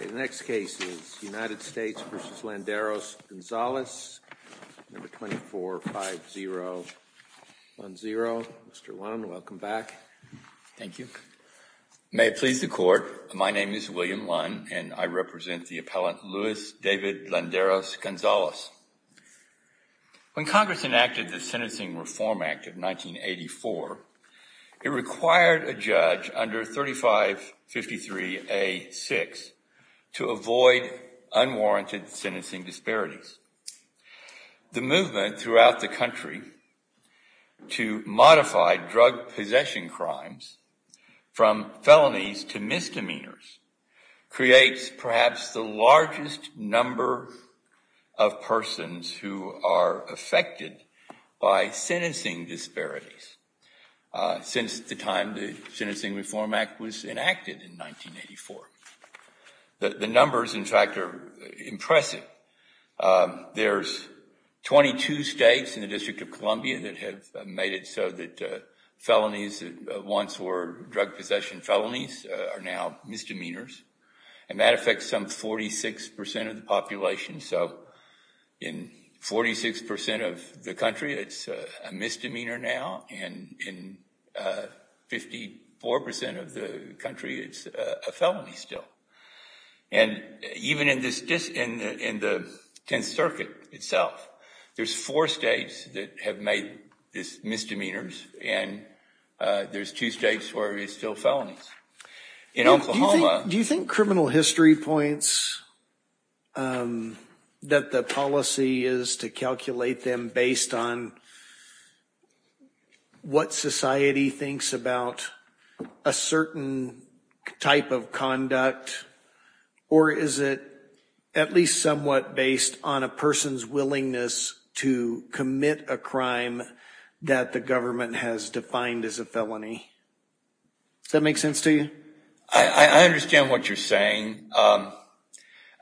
The next case is United States v. Landeros-Gonzalez, No. 245010. Mr. Lund, welcome back. Thank you. May it please the Court, my name is William Lund and I represent the appellant Louis David Landeros-Gonzalez. When Congress enacted the Sentencing Reform Act of 1984, it required a judge under 3553A6 to avoid unwarranted sentencing disparities. The movement throughout the country to modify drug possession crimes from felonies to misdemeanors creates perhaps the largest number of persons who are affected by sentencing disparities. Since the time the Sentencing Reform Act was enacted in 1984. The numbers in fact are impressive. There's 22 states in the District of Columbia that have made it so that felonies that once were drug possession felonies are now misdemeanors. And that affects some 46% of the population so in 46% of the country it's a misdemeanor now and in 54% of the country it's a felony still. And even in the 10th Circuit itself, there's four states that have made this misdemeanors and there's two states where it's still felonies. In Oklahoma... Do you think criminal history points that the policy is to calculate them based on what society thinks about a certain type of conduct or is it at least somewhat based on a person's willingness to commit a crime that the government has defined as a felony? Does that make sense to you? I understand what you're saying.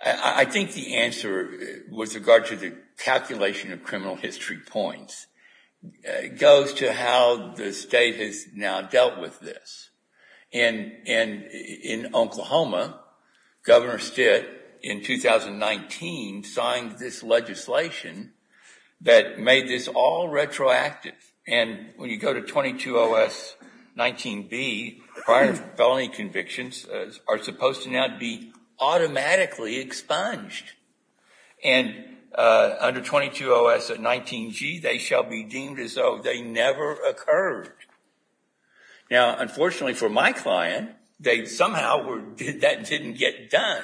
I think the answer with regard to the calculation of criminal history points goes to how the state has now dealt with this. In Oklahoma, Governor Stitt in 2019 signed this legislation that made this all retroactive and when you go to 220S19B, prior felony convictions are supposed to now be automatically expunged and under 220S19G they shall be deemed as though they never occurred. Now unfortunately for my client, somehow that didn't get done.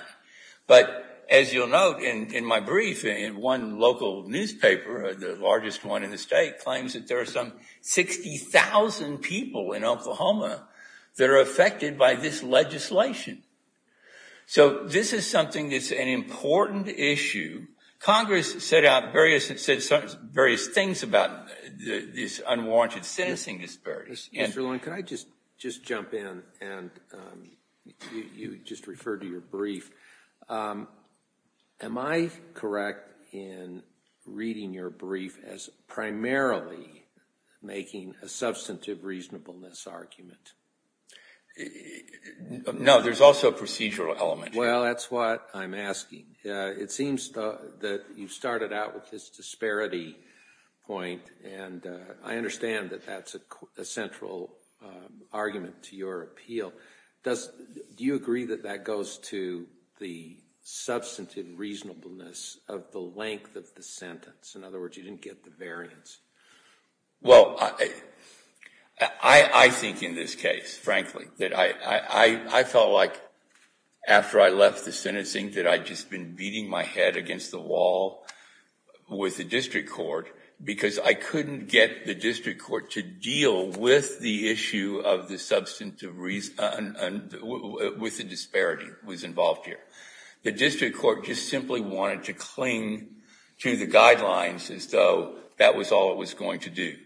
But as you'll note in my brief, one local newspaper, the largest one in the state, claims that there are some 60,000 people in Oklahoma that are affected by this legislation. So this is something that's an important issue. Congress set out various things about this unwanted sentencing disparity. Mr. Long, can I just jump in and you just referred to your brief. Am I correct in recommending reading your brief as primarily making a substantive reasonableness argument? No, there's also a procedural element. Well that's what I'm asking. It seems that you started out with this disparity point and I understand that that's a central argument to your appeal. Do you agree that that goes to the substantive reasonableness of the length of the sentence? In other words, you didn't get the variance. Well, I think in this case, frankly, that I felt like after I left the sentencing that I'd just been beating my head against the wall with the district court because I couldn't get the district court to deal with the issue of the substantive reasonableness, with the disparity that was involved here. The district court just simply wanted to cling to the guidelines as though that was all it was going to do.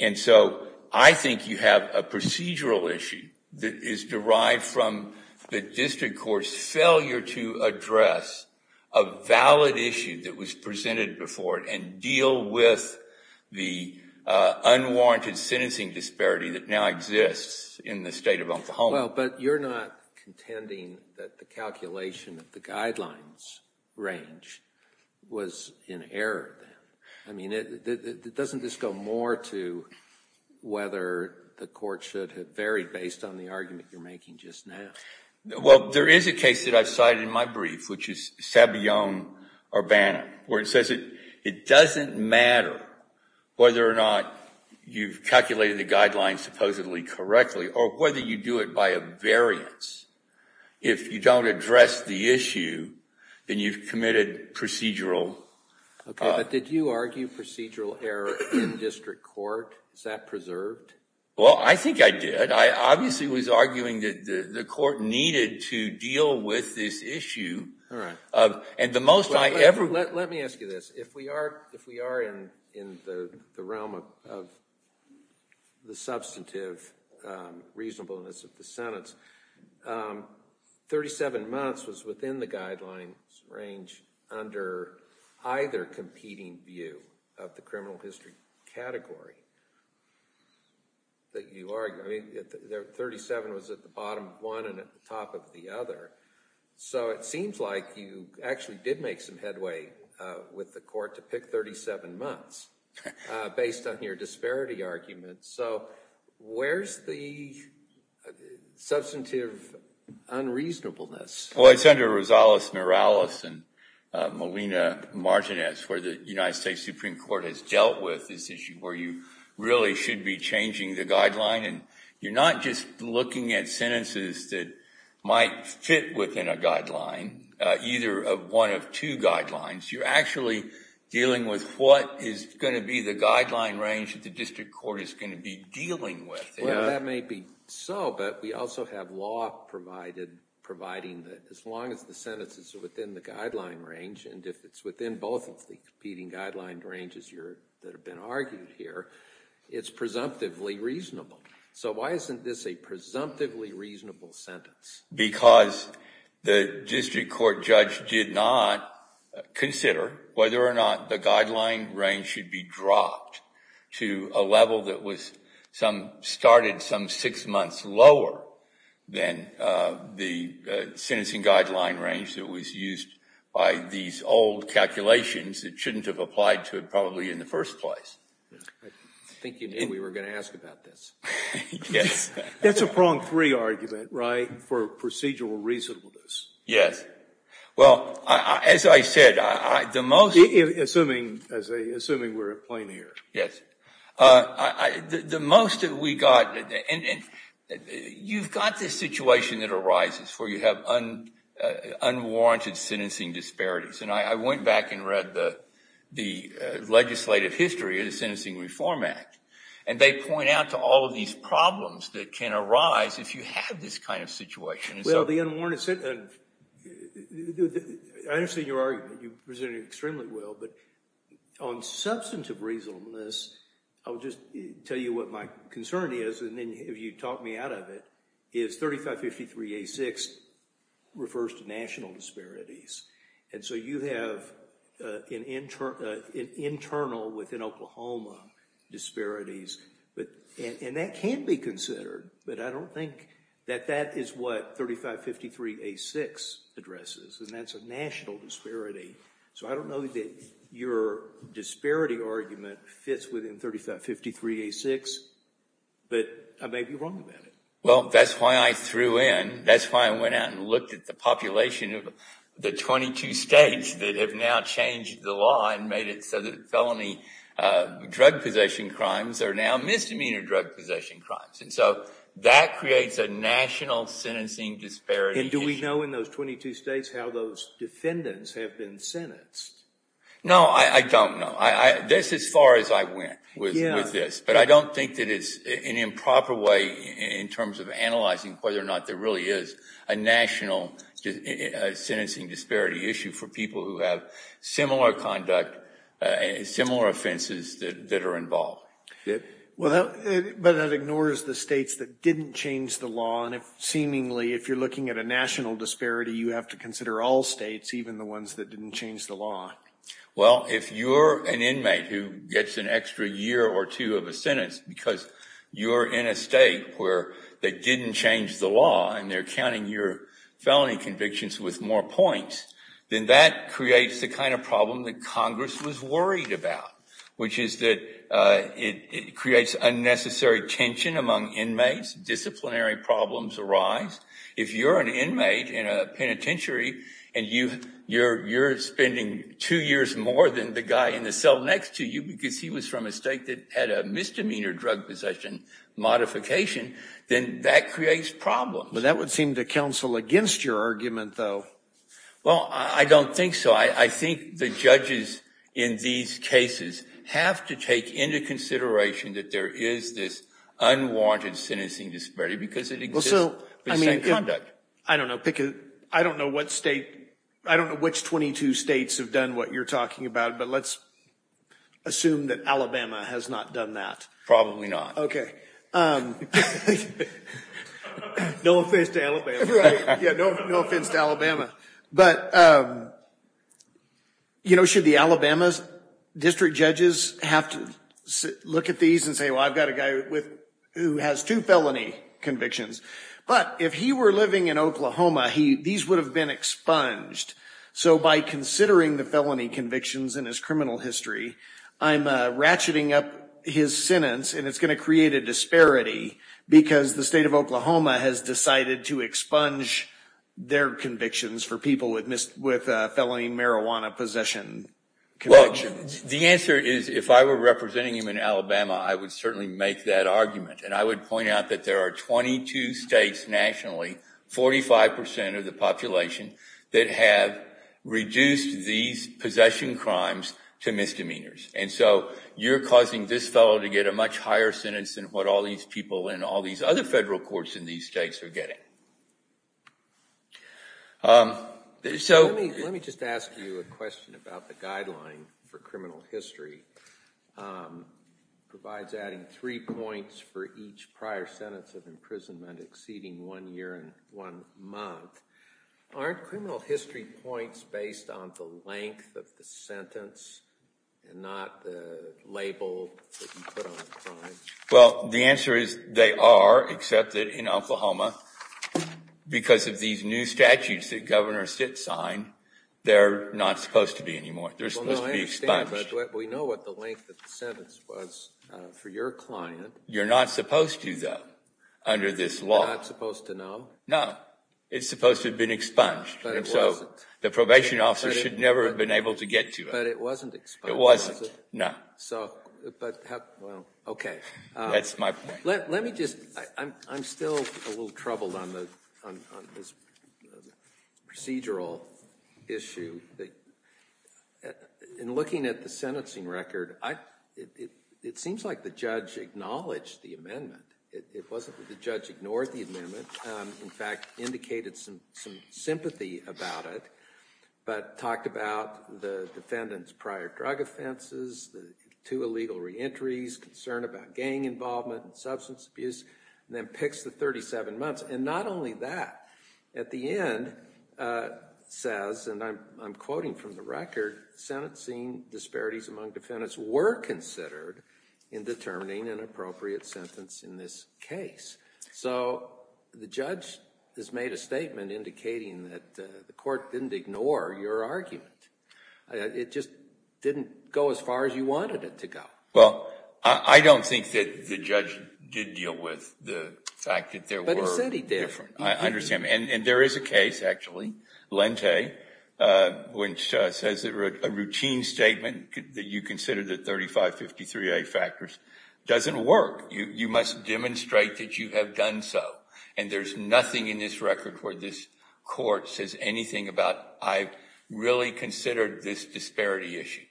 And so I think you have a procedural issue that is derived from the district court's failure to address a valid issue that was presented before it and deal with the unwarranted sentencing disparity that now exists in the state of Oklahoma. Well, but you're not contending that the calculation of the guidelines range was in error then. I mean, doesn't this go more to whether the court should have varied based on the argument you're making just now? Well, there is a case that I've cited in my brief, which is Sabillon-Urbana, where it says it doesn't matter whether or not you've calculated the guidelines supposedly correctly or whether you do it by a variance. If you don't address the issue, then you've committed procedural... Okay, but did you argue procedural error in district court? Is that preserved? Well, I think I did. I obviously was arguing that the court needed to deal with this issue. And the most I ever... Let me ask you this. If we are in the realm of the substantive reasonableness of the district court and the reasonableness of the Senate, 37 months was within the guidelines range under either competing view of the criminal history category that you argue. I mean, 37 was at the bottom of one and at the top of the other. So it seems like you actually did make some headway with the court to pick 37 months based on your disparity argument. So where's the substantive unreasonableness? Well, it's under Rosales-Morales and Molina-Martinez, where the United States Supreme Court has dealt with this issue where you really should be changing the guideline. And you're not just looking at sentences that might fit within a guideline, either of one of two guidelines. You're actually dealing with what is going to be the guideline range that the district court is going to be dealing with. Well, that may be so, but we also have law providing that as long as the sentences are within the guideline range and if it's within both of the competing guideline ranges that have been argued here, it's presumptively reasonable. So why isn't this a presumptively reasonable sentence? Because the district court judge did not consider whether or not the guideline range should be dropped to a level that started some six months lower than the sentencing guideline range that was used by these old calculations that shouldn't have applied to it probably in the first place. I think you knew we were going to ask about this. That's a prong three argument, right, for procedural reasonableness. Yes. Well, as I said, the most... Assuming we're at plain ear. Yes. The most that we got... You've got this situation that arises where you have unwarranted sentencing disparities, and I went back and read the legislative history of the Sentencing Reform Act, and they point out to all of these problems that can arise if you have this kind of situation. Well, the unwarranted... I understand your argument. You presented it extremely well, but on substantive reasonableness, I'll just tell you what my concern is, and then if you talk me out of it, is 3553A6 refers to national disparities. And so you have an internal within Oklahoma disparities, and that can be considered, but I don't think that that is what 3553A6 addresses, and that's a national disparity. So I don't know that your disparity argument fits within 3553A6, but I may be wrong about it. Well, that's why I threw in... That's why I went out and looked at the population of the 22 states that have now changed the law and made it so that felony drug possession crimes are now misdemeanor drug possession crimes. And so that creates a national sentencing disparity issue. And do we know in those 22 states how those defendants have been sentenced? No, I don't know. This is as far as I went with this, but I don't think that it's an improper way in terms of analyzing whether or not there really is a national sentencing disparity issue for people who have similar conduct, similar offenses that are involved. But that ignores the states that didn't change the law, and seemingly, if you're looking at a national disparity, you have to consider all states, even the ones that didn't change the law. Well, if you're an inmate who gets an extra year or two of a sentence because you're in a state where they didn't change the law and they're counting your felony convictions with more points, then that creates the kind of problem that Congress was worried about, which is that it creates unnecessary tension among inmates, disciplinary problems arise. If you're an inmate in a penitentiary and you're spending two years more than the guy in the cell next to you because he was from a state that had a misdemeanor drug possession modification, then that creates problems. But that would seem to counsel against your argument, though. Well, I don't think so. I think the judges in these cases have to take into consideration that there is this unwanted sentencing disparity because it exists for the same conduct. I don't know, pick a, I don't know what state, I don't know which 22 states have done what you're talking about, but let's assume that Alabama has not done that. Probably not. Okay. No offense to Alabama. Right, yeah, no offense to Alabama. But, you know, should the Alabama's district judges have to look at these and say, well, I've got a guy with, who has two felony convictions. But if he were living in Oklahoma, he, these would have been expunged. So by considering the felony convictions in his criminal history, I'm ratcheting up his sentence and it's going to create a disparity because the state of Oklahoma has decided to expunge their convictions for people with felony marijuana possession convictions. The answer is, if I were representing him in Alabama, I would certainly make that argument. And I would point out that there are 22 states nationally, 45% of the population, that have reduced these possession crimes to misdemeanors. And so you're causing this fellow to get a much higher sentence than what all these people in all these other federal courts in these states are getting. Let me just ask you a question about the guideline for criminal history. It provides adding three points for each prior sentence of imprisonment exceeding one year and one month. Aren't criminal history points based on the length of the sentence and not the label that you put on the crime? Well, the answer is they are, except that in Oklahoma, because of these new statutes that Governor Sitt signed, they're not supposed to be anymore. They're supposed to be expunged. We know what the length of the sentence was for your client. You're not supposed to, though, under this law. You're not supposed to know? No. It's supposed to have been expunged. But it wasn't. And so the probation officer should never have been able to get to it. But it wasn't expunged, was it? It wasn't. No. So, but how, well, okay. That's my point. Let me just, I'm still a little troubled on this procedural issue. In looking at the sentencing record, it seems like the judge acknowledged the amendment. It wasn't that the judge ignored the amendment. In fact, indicated some sympathy about it, but talked about the defendant's prior drug offenses, the two illegal reentries, concern about gang involvement and substance abuse, and then picks the 37 months. And not only that, at the end says, and I'm quoting from the record, sentencing disparities among defendants were considered in determining an appropriate sentence in this case. So the judge has made a statement indicating that the court didn't ignore your argument. It just didn't go as far as you wanted it to go. Well, I don't think that the judge did deal with the fact that there were different. But he said he did. I understand. And there is a case, actually, Lente, which says a routine statement that you consider the 3553A factors doesn't work. You must demonstrate that you have done so. And there's nothing in this record where this court says anything about, I really considered this disparity issue.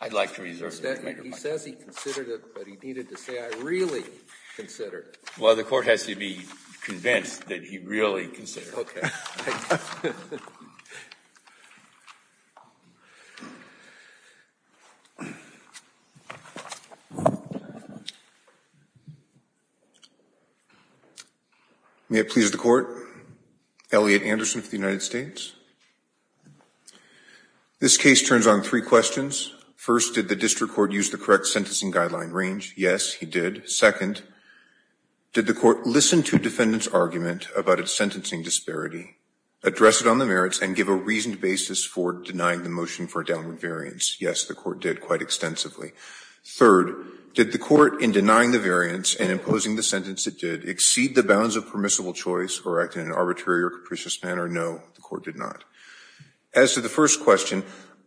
I'd like to reserve that. He says he considered it, but he needed to say, I really considered it. Well, the court has to be convinced that he really considered it. May it please the court. Elliot Anderson for the United States. This case turns on three questions. First, did the district court use the correct sentencing guideline range? Yes, he did. Second, did the court listen to defendant's argument about its sentencing disparity, address it on the merits, and give a reasoned basis for denying the motion for a downward variance? Yes, the court did quite extensively. Third, did the court, in denying the variance and imposing the sentence it did, exceed the bounds of permissible choice or act in an arbitrary or capricious manner? No, the court did not. As to the first question,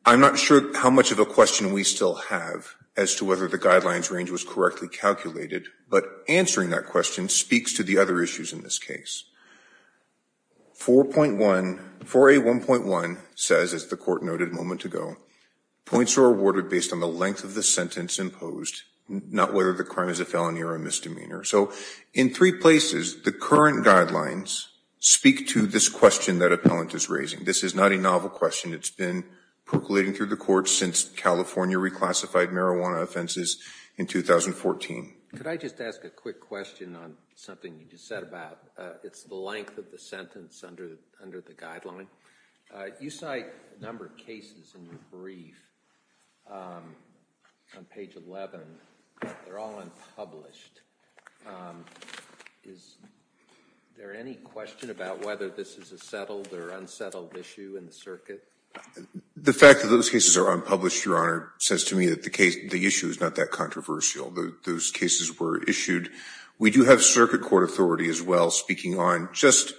I'm not sure how much of a question we still have as to whether the guidelines range was correctly calculated. But answering that question speaks to the other issues in this case. 4.1, 4A1.1 says, as the court noted a moment ago, points are awarded based on the length of the sentence imposed, not whether the crime is a felony or a misdemeanor. So in three places, the current guidelines speak to this question that appellant is raising. This is not a novel question. It's been percolating through the courts since California reclassified marijuana offenses in 2014. Could I just ask a quick question on something you just said about it's the length of the sentence under the guideline? You cite a number of cases in your brief on page 11. They're all unpublished. Is there any question about whether this is a settled or unsettled issue in the circuit? The fact that those cases are unpublished, Your Honor, says to me that the issue is not that controversial. Those cases were issued. We do have circuit court authority as well speaking on just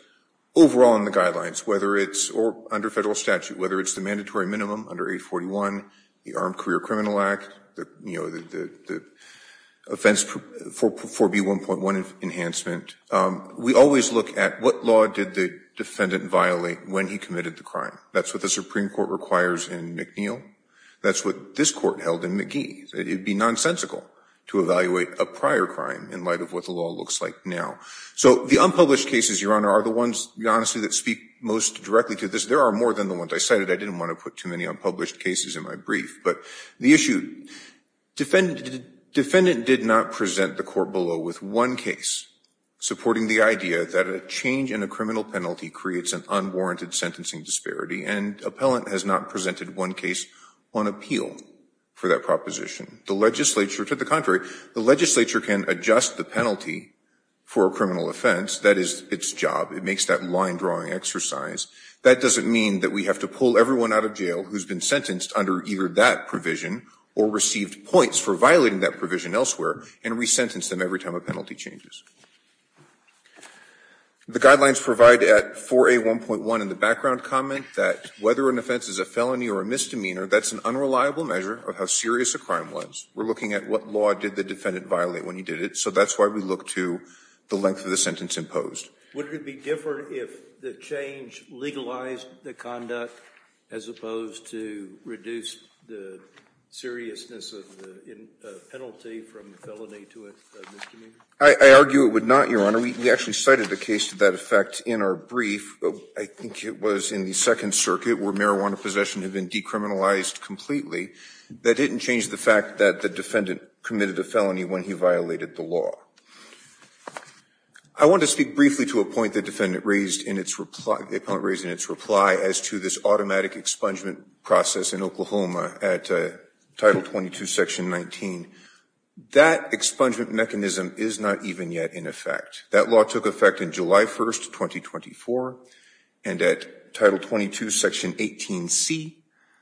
overall in the guidelines, whether it's under federal statute, whether it's the mandatory minimum under 841, the Armed Career Criminal Act, the offense 4B1.1 enhancement. We always look at what law did the defendant violate when he committed the crime. That's what the Supreme Court requires in McNeil. That's what this court held in key. It would be nonsensical to evaluate a prior crime in light of what the law looks like now. So the unpublished cases, Your Honor, are the ones, to be honest with you, that speak most directly to this. There are more than the ones I cited. I didn't want to put too many unpublished cases in my brief. But the issue, defendant did not present the court below with one case supporting the idea that a change in a criminal penalty creates an unwarranted sentencing disparity and appellant has not presented one case on appeal for that proposition. The legislature, to the contrary, the legislature can adjust the penalty for a criminal offense. That is its job. It makes that line-drawing exercise. That doesn't mean that we have to pull everyone out of jail who has been sentenced under either that provision or received points for violating that provision elsewhere and resentence them every time a penalty changes. The guidelines provide at 4A1.1 in the background comment that whether an offense is a felony or a misdemeanor, that's an unreliable measure of how serious a crime was. We're looking at what law did the defendant violate when he did it. So that's why we look to the length of the sentence imposed. Scalia. Would it be different if the change legalized the conduct as opposed to reduce the seriousness of the penalty from a felony to a misdemeanor? I argue it would not, Your Honor. We actually cited a case to that effect in our brief. I think it was in the Second Circuit where marijuana possession had been decriminalized completely. That didn't change the fact that the defendant committed a felony when he violated the law. I want to speak briefly to a point the defendant raised in its reply as to this automatic expungement process in Oklahoma at Title 22, Section 19. That expungement mechanism is not even yet in effect. That law took effect in July 1, 2024, and at Title 22, Section 18C,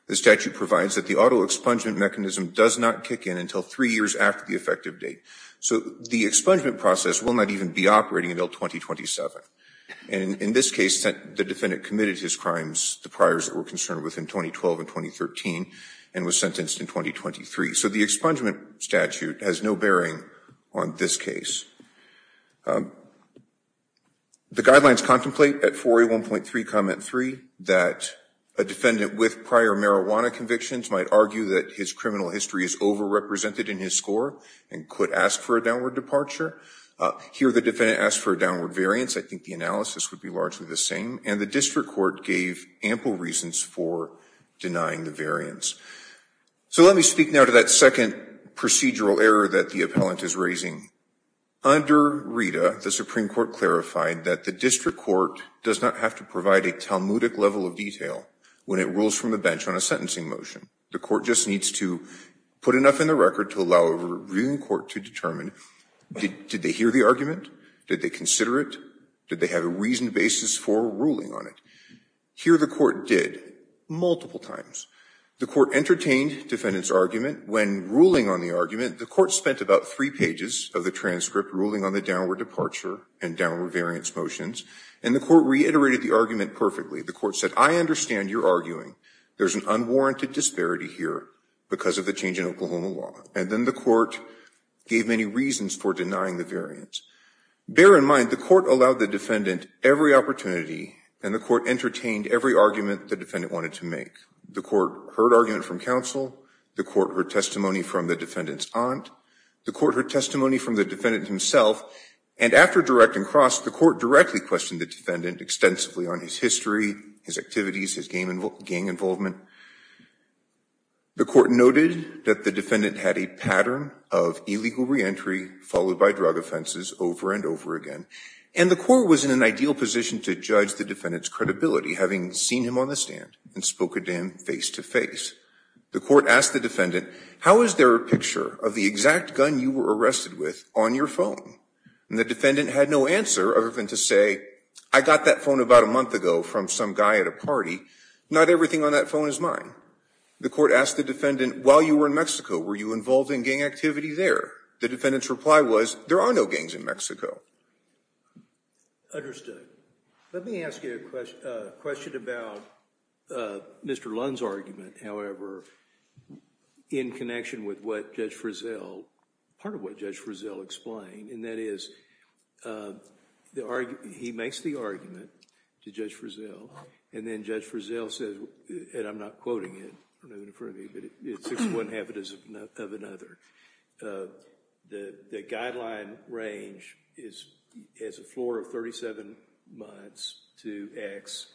the statute provides that the auto expungement mechanism does not kick in until three years after the effective date. So the expungement process will not even be operating until 2027. In this case, the defendant committed his crimes, the priors that we're concerned with, in 2012 and 2013 and was sentenced in 2023. So the expungement statute has no bearing on this case. The guidelines contemplate at 4A1.3, Comment 3, that a defendant with prior marijuana convictions might argue that his criminal history is overrepresented in his score and could ask for a downward departure. Here, the defendant asked for a downward variance. I think the analysis would be largely the same. And the district court gave ample reasons for denying the variance. So let me speak now to that second procedural error that the appellant is raising. Under RITA, the Supreme Court clarified that the district court does not have to provide a Talmudic level of detail when it rules from the bench on a sentencing motion. The court just needs to put enough in the record to allow a reviewing court to determine, did they hear the argument? Did they consider it? Did they have a reasoned basis for ruling on it? Here, the court did, multiple times. The court entertained defendant's argument. When ruling on the argument, the court spent about three pages of the transcript ruling on the downward departure and downward variance motions. And the court reiterated the argument perfectly. The court said, I understand your arguing. There's an unwarranted disparity here because of the change in Oklahoma law. And then the court gave many reasons for denying the variance. Bear in mind, the court allowed the defendant every opportunity and the court entertained every argument the defendant wanted to make. The court heard argument from counsel. The court heard testimony from the defendant's aunt. The court heard testimony from the defendant himself. And after direct and cross, the court directly questioned the defendant extensively on his history, his activities, his gang involvement. The court noted that the defendant had a pattern of illegal reentry followed by drug offenses over and over again. And the court was in an ideal position to judge the defendant's credibility, having seen him on the stand and spoken to him face to face. The court asked the defendant, how is there a picture of the exact gun you were arrested with on your phone? And the defendant had no answer other than to say, I got that phone about a month ago from some guy at a party. Not everything on that phone is mine. The court asked the defendant, while you were in Mexico, were you involved in gang activity there? The defendant's reply was, there are no gangs in Mexico. Understood. Let me ask you a question about Mr. Lund's argument, however, in connection with what Judge Frizzell, part of what Judge Frizzell explained. And that is, he makes the argument to Judge Frizzell, and then Judge Frizzell says, and I'm not quoting it, it's one habit of another. The guideline range is a floor of 37 months to X.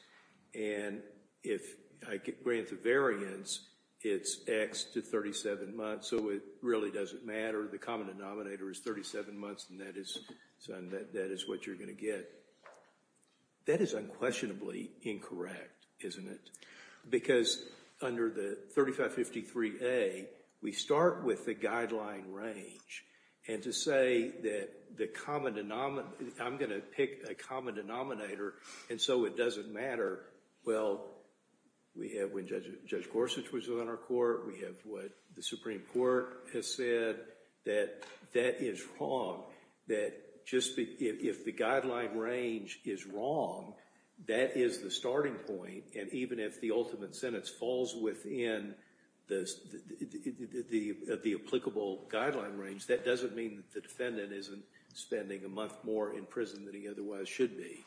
And if I grant the variance, it's X to 37 months. So it really doesn't matter. The common denominator is 37 months, and that is what you're going to get. That is unquestionably incorrect, isn't it? Because under the 3553A, we start with the guideline range. And to say that the common denominator, I'm going to pick a common denominator, and so it doesn't matter. Well, we have when Judge Gorsuch was on our court, we have what the Supreme Court has said, that that is wrong. That just if the guideline range is wrong, that is the starting point. And even if the ultimate sentence falls within the applicable guideline range, that doesn't mean the defendant isn't spending a month more in prison than he otherwise should be.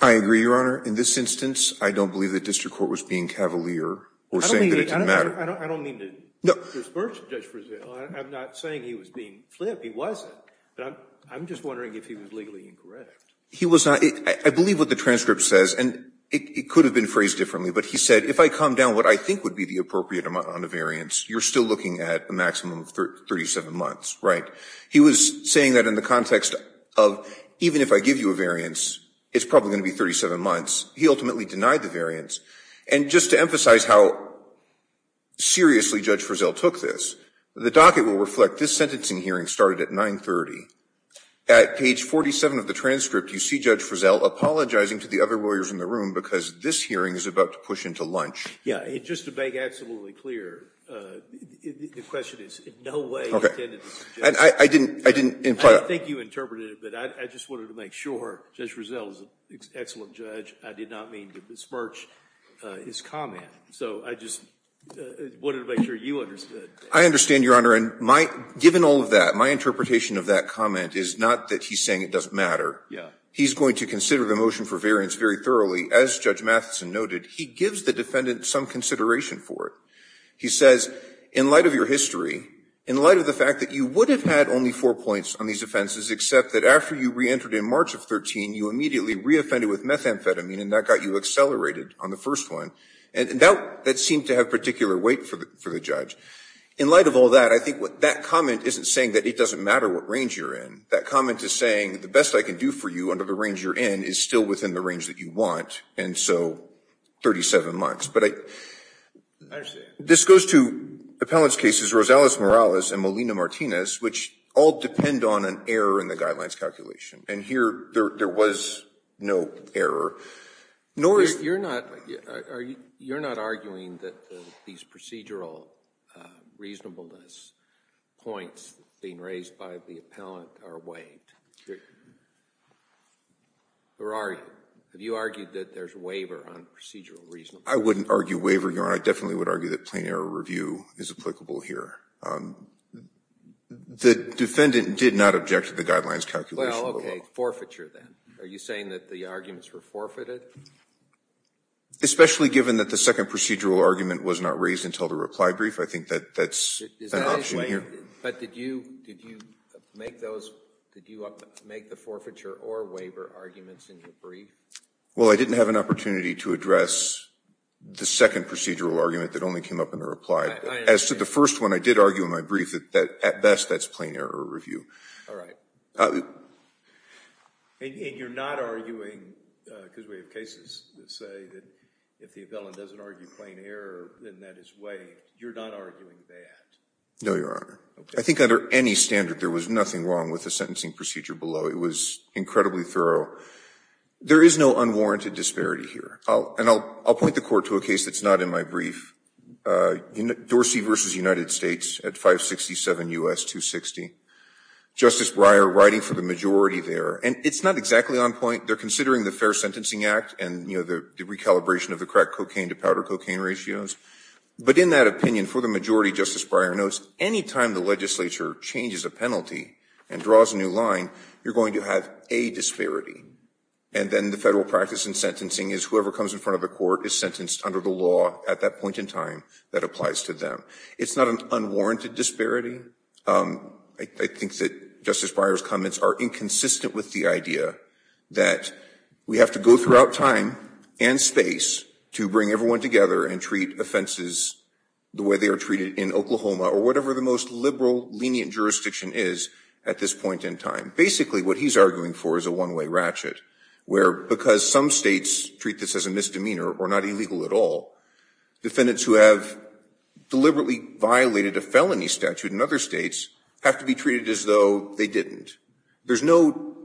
I agree, Your Honor. In this instance, I don't believe the district court was being cavalier or saying that it didn't matter. I don't mean to disperse Judge Frizzell. I'm not saying he was being flipped. He wasn't. But I'm just wondering if he was legally incorrect. He was not. I believe what the transcript says, and it could have been phrased differently, but he said if I calm down what I think would be the appropriate amount on the variance, you're still looking at a maximum of 37 months, right? He was saying that in the context of even if I give you a variance, it's probably going to be 37 months. He ultimately denied the variance. And just to emphasize how seriously Judge Frizzell took this, the docket will reflect this sentencing hearing started at 9.30. At page 47 of the transcript, you see Judge Frizzell apologizing to the other lawyers in the room because this hearing is about to push into lunch. Yeah. And just to make absolutely clear, the question is in no way intended to suggest I didn't imply I think you interpreted it, but I just wanted to make sure Judge Frizzell is an excellent judge. I did not mean to disperse his comment. So I just wanted to make sure you understood. I understand, Your Honor. And given all of that, my interpretation of that comment is not that he's saying it doesn't matter. He's going to consider the motion for variance very thoroughly. As Judge Matheson noted, he gives the defendant some consideration for it. He says, in light of your history, in light of the fact that you would have had only four points on these offenses, except that after you reentered in March of 13, you immediately reoffended with methamphetamine and that got you accelerated on the first one. And that seemed to have particular weight for the judge. In light of all that, I think that comment isn't saying that it doesn't matter what range you're in. That comment is saying, the best I can do for you under the range you're in is still within the range that you want, and so 37 months. But I understand. This goes to appellant's cases Rosales-Morales and Molina-Martinez, which all depend on an error in the guidelines calculation. And here, there was no error, nor is there. You're not arguing that these procedural reasonableness points being raised by the appellant are waived? Or are you? Have you argued that there's a waiver on procedural reasonableness? I wouldn't argue waiver, Your Honor. I definitely would argue that plain error review is applicable here. The defendant did not object to the guidelines calculation. Okay. Forfeiture, then. Are you saying that the arguments were forfeited? Especially given that the second procedural argument was not raised until the reply brief, I think that that's an option here. But did you make the forfeiture or waiver arguments in your brief? Well, I didn't have an opportunity to address the second procedural argument that only came up in the reply. As to the first one, I did argue in my brief that at best, that's plain error review. All right. And you're not arguing, because we have cases that say that if the appellant doesn't argue plain error, then that is waived. You're not arguing that? No, Your Honor. I think under any standard, there was nothing wrong with the sentencing procedure below. It was incredibly thorough. There is no unwarranted disparity here. And I'll point the Court to a case that's not in my brief. Dorsey v. United States at 567 U.S. 260. Justice Breyer writing for the majority there. And it's not exactly on point. They're considering the Fair Sentencing Act and the recalibration of the crack cocaine to powder cocaine ratios. But in that opinion, for the majority, Justice Breyer notes, anytime the legislature changes a penalty and draws a new line, you're going to have a disparity. And then the federal practice in sentencing is whoever comes in front of the Court is under the law at that point in time that applies to them. It's not an unwarranted disparity. I think that Justice Breyer's comments are inconsistent with the idea that we have to go throughout time and space to bring everyone together and treat offenses the way they are treated in Oklahoma or whatever the most liberal, lenient jurisdiction is at this point in time. Basically, what he's arguing for is a one-way ratchet, where because some states treat this as a misdemeanor or not illegal at all, defendants who have deliberately violated a felony statute in other states have to be treated as though they didn't. There's no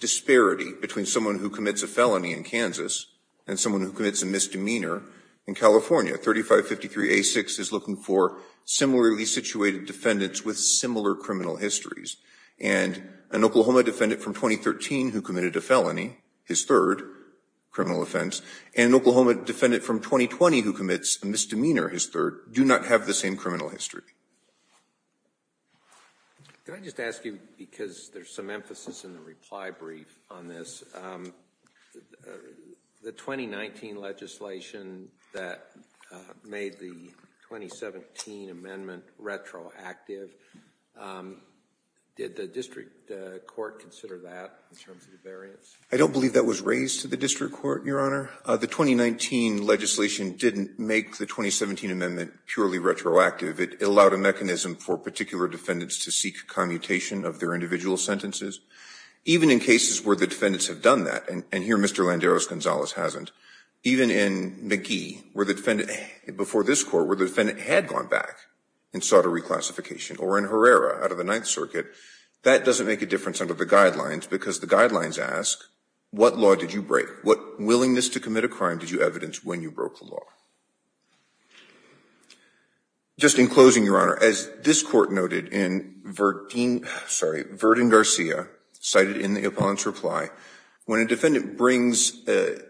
disparity between someone who commits a felony in Kansas and someone who commits a misdemeanor in California. 3553A6 is looking for similarly situated defendants with similar criminal histories. And an Oklahoma defendant from 2013 who committed a felony, his third criminal offense, and an Oklahoma defendant from 2020 who commits a misdemeanor, his third, do not have the same criminal history. Can I just ask you, because there's some emphasis in the reply brief on this, the 2019 legislation that made the 2017 amendment retroactive, did the district court consider that? I don't believe that was raised to the district court, Your Honor. The 2019 legislation didn't make the 2017 amendment purely retroactive. It allowed a mechanism for particular defendants to seek commutation of their individual sentences. Even in cases where the defendants have done that, and here Mr. Landeros-Gonzalez hasn't, even in McGee, before this court, where the defendant had gone back and sought a reclassification, or in Herrera out of the circuit, that doesn't make a difference under the guidelines, because the guidelines ask, what law did you break? What willingness to commit a crime did you evidence when you broke the law? Just in closing, Your Honor, as this court noted in Verdeen, sorry, Verdeen-Garcia, cited in the opponent's reply, when a defendant brings an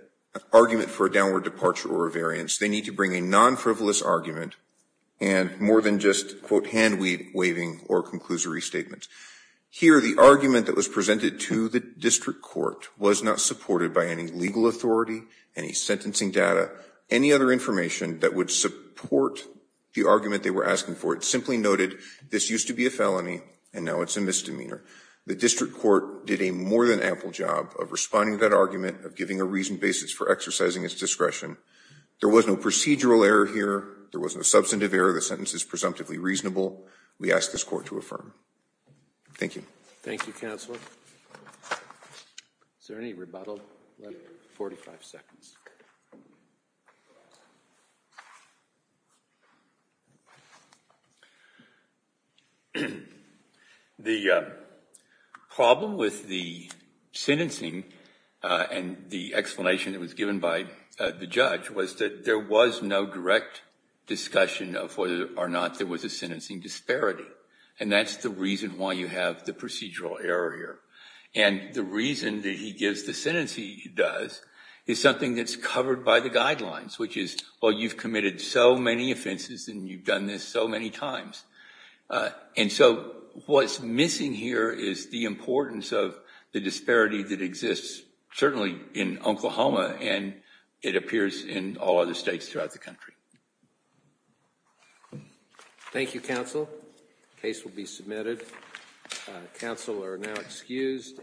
argument for a downward departure or a variance, they need to bring a non-frivolous argument and more than just, quote, hand-waving or conclusory statements. Here, the argument that was presented to the district court was not supported by any legal authority, any sentencing data, any other information that would support the argument they were asking for. It simply noted, this used to be a felony and now it's a misdemeanor. The district court did a more than ample job of responding to that argument, of giving a reasoned basis for exercising its discretion. There was no procedural error here. There was no substantive error. The sentence is presumptively reasonable. We ask this court to affirm. Thank you. Thank you, Counselor. Is there any rebuttal? 45 seconds. The problem with the sentencing and the explanation that was given by the judge was that there was no direct discussion of whether or not there was a sentencing disparity. And that's the reason why you have the procedural error here. And the reason that he gives the sentence he does is something that's covered by the guidelines, which is, well, you've committed so many offenses and you've done this so many times. And so what's missing here is the importance of the disparity that exists, certainly in Oklahoma, and it appears in all other states throughout the country. Thank you, Counsel. The case will be submitted. Counsel are now excused.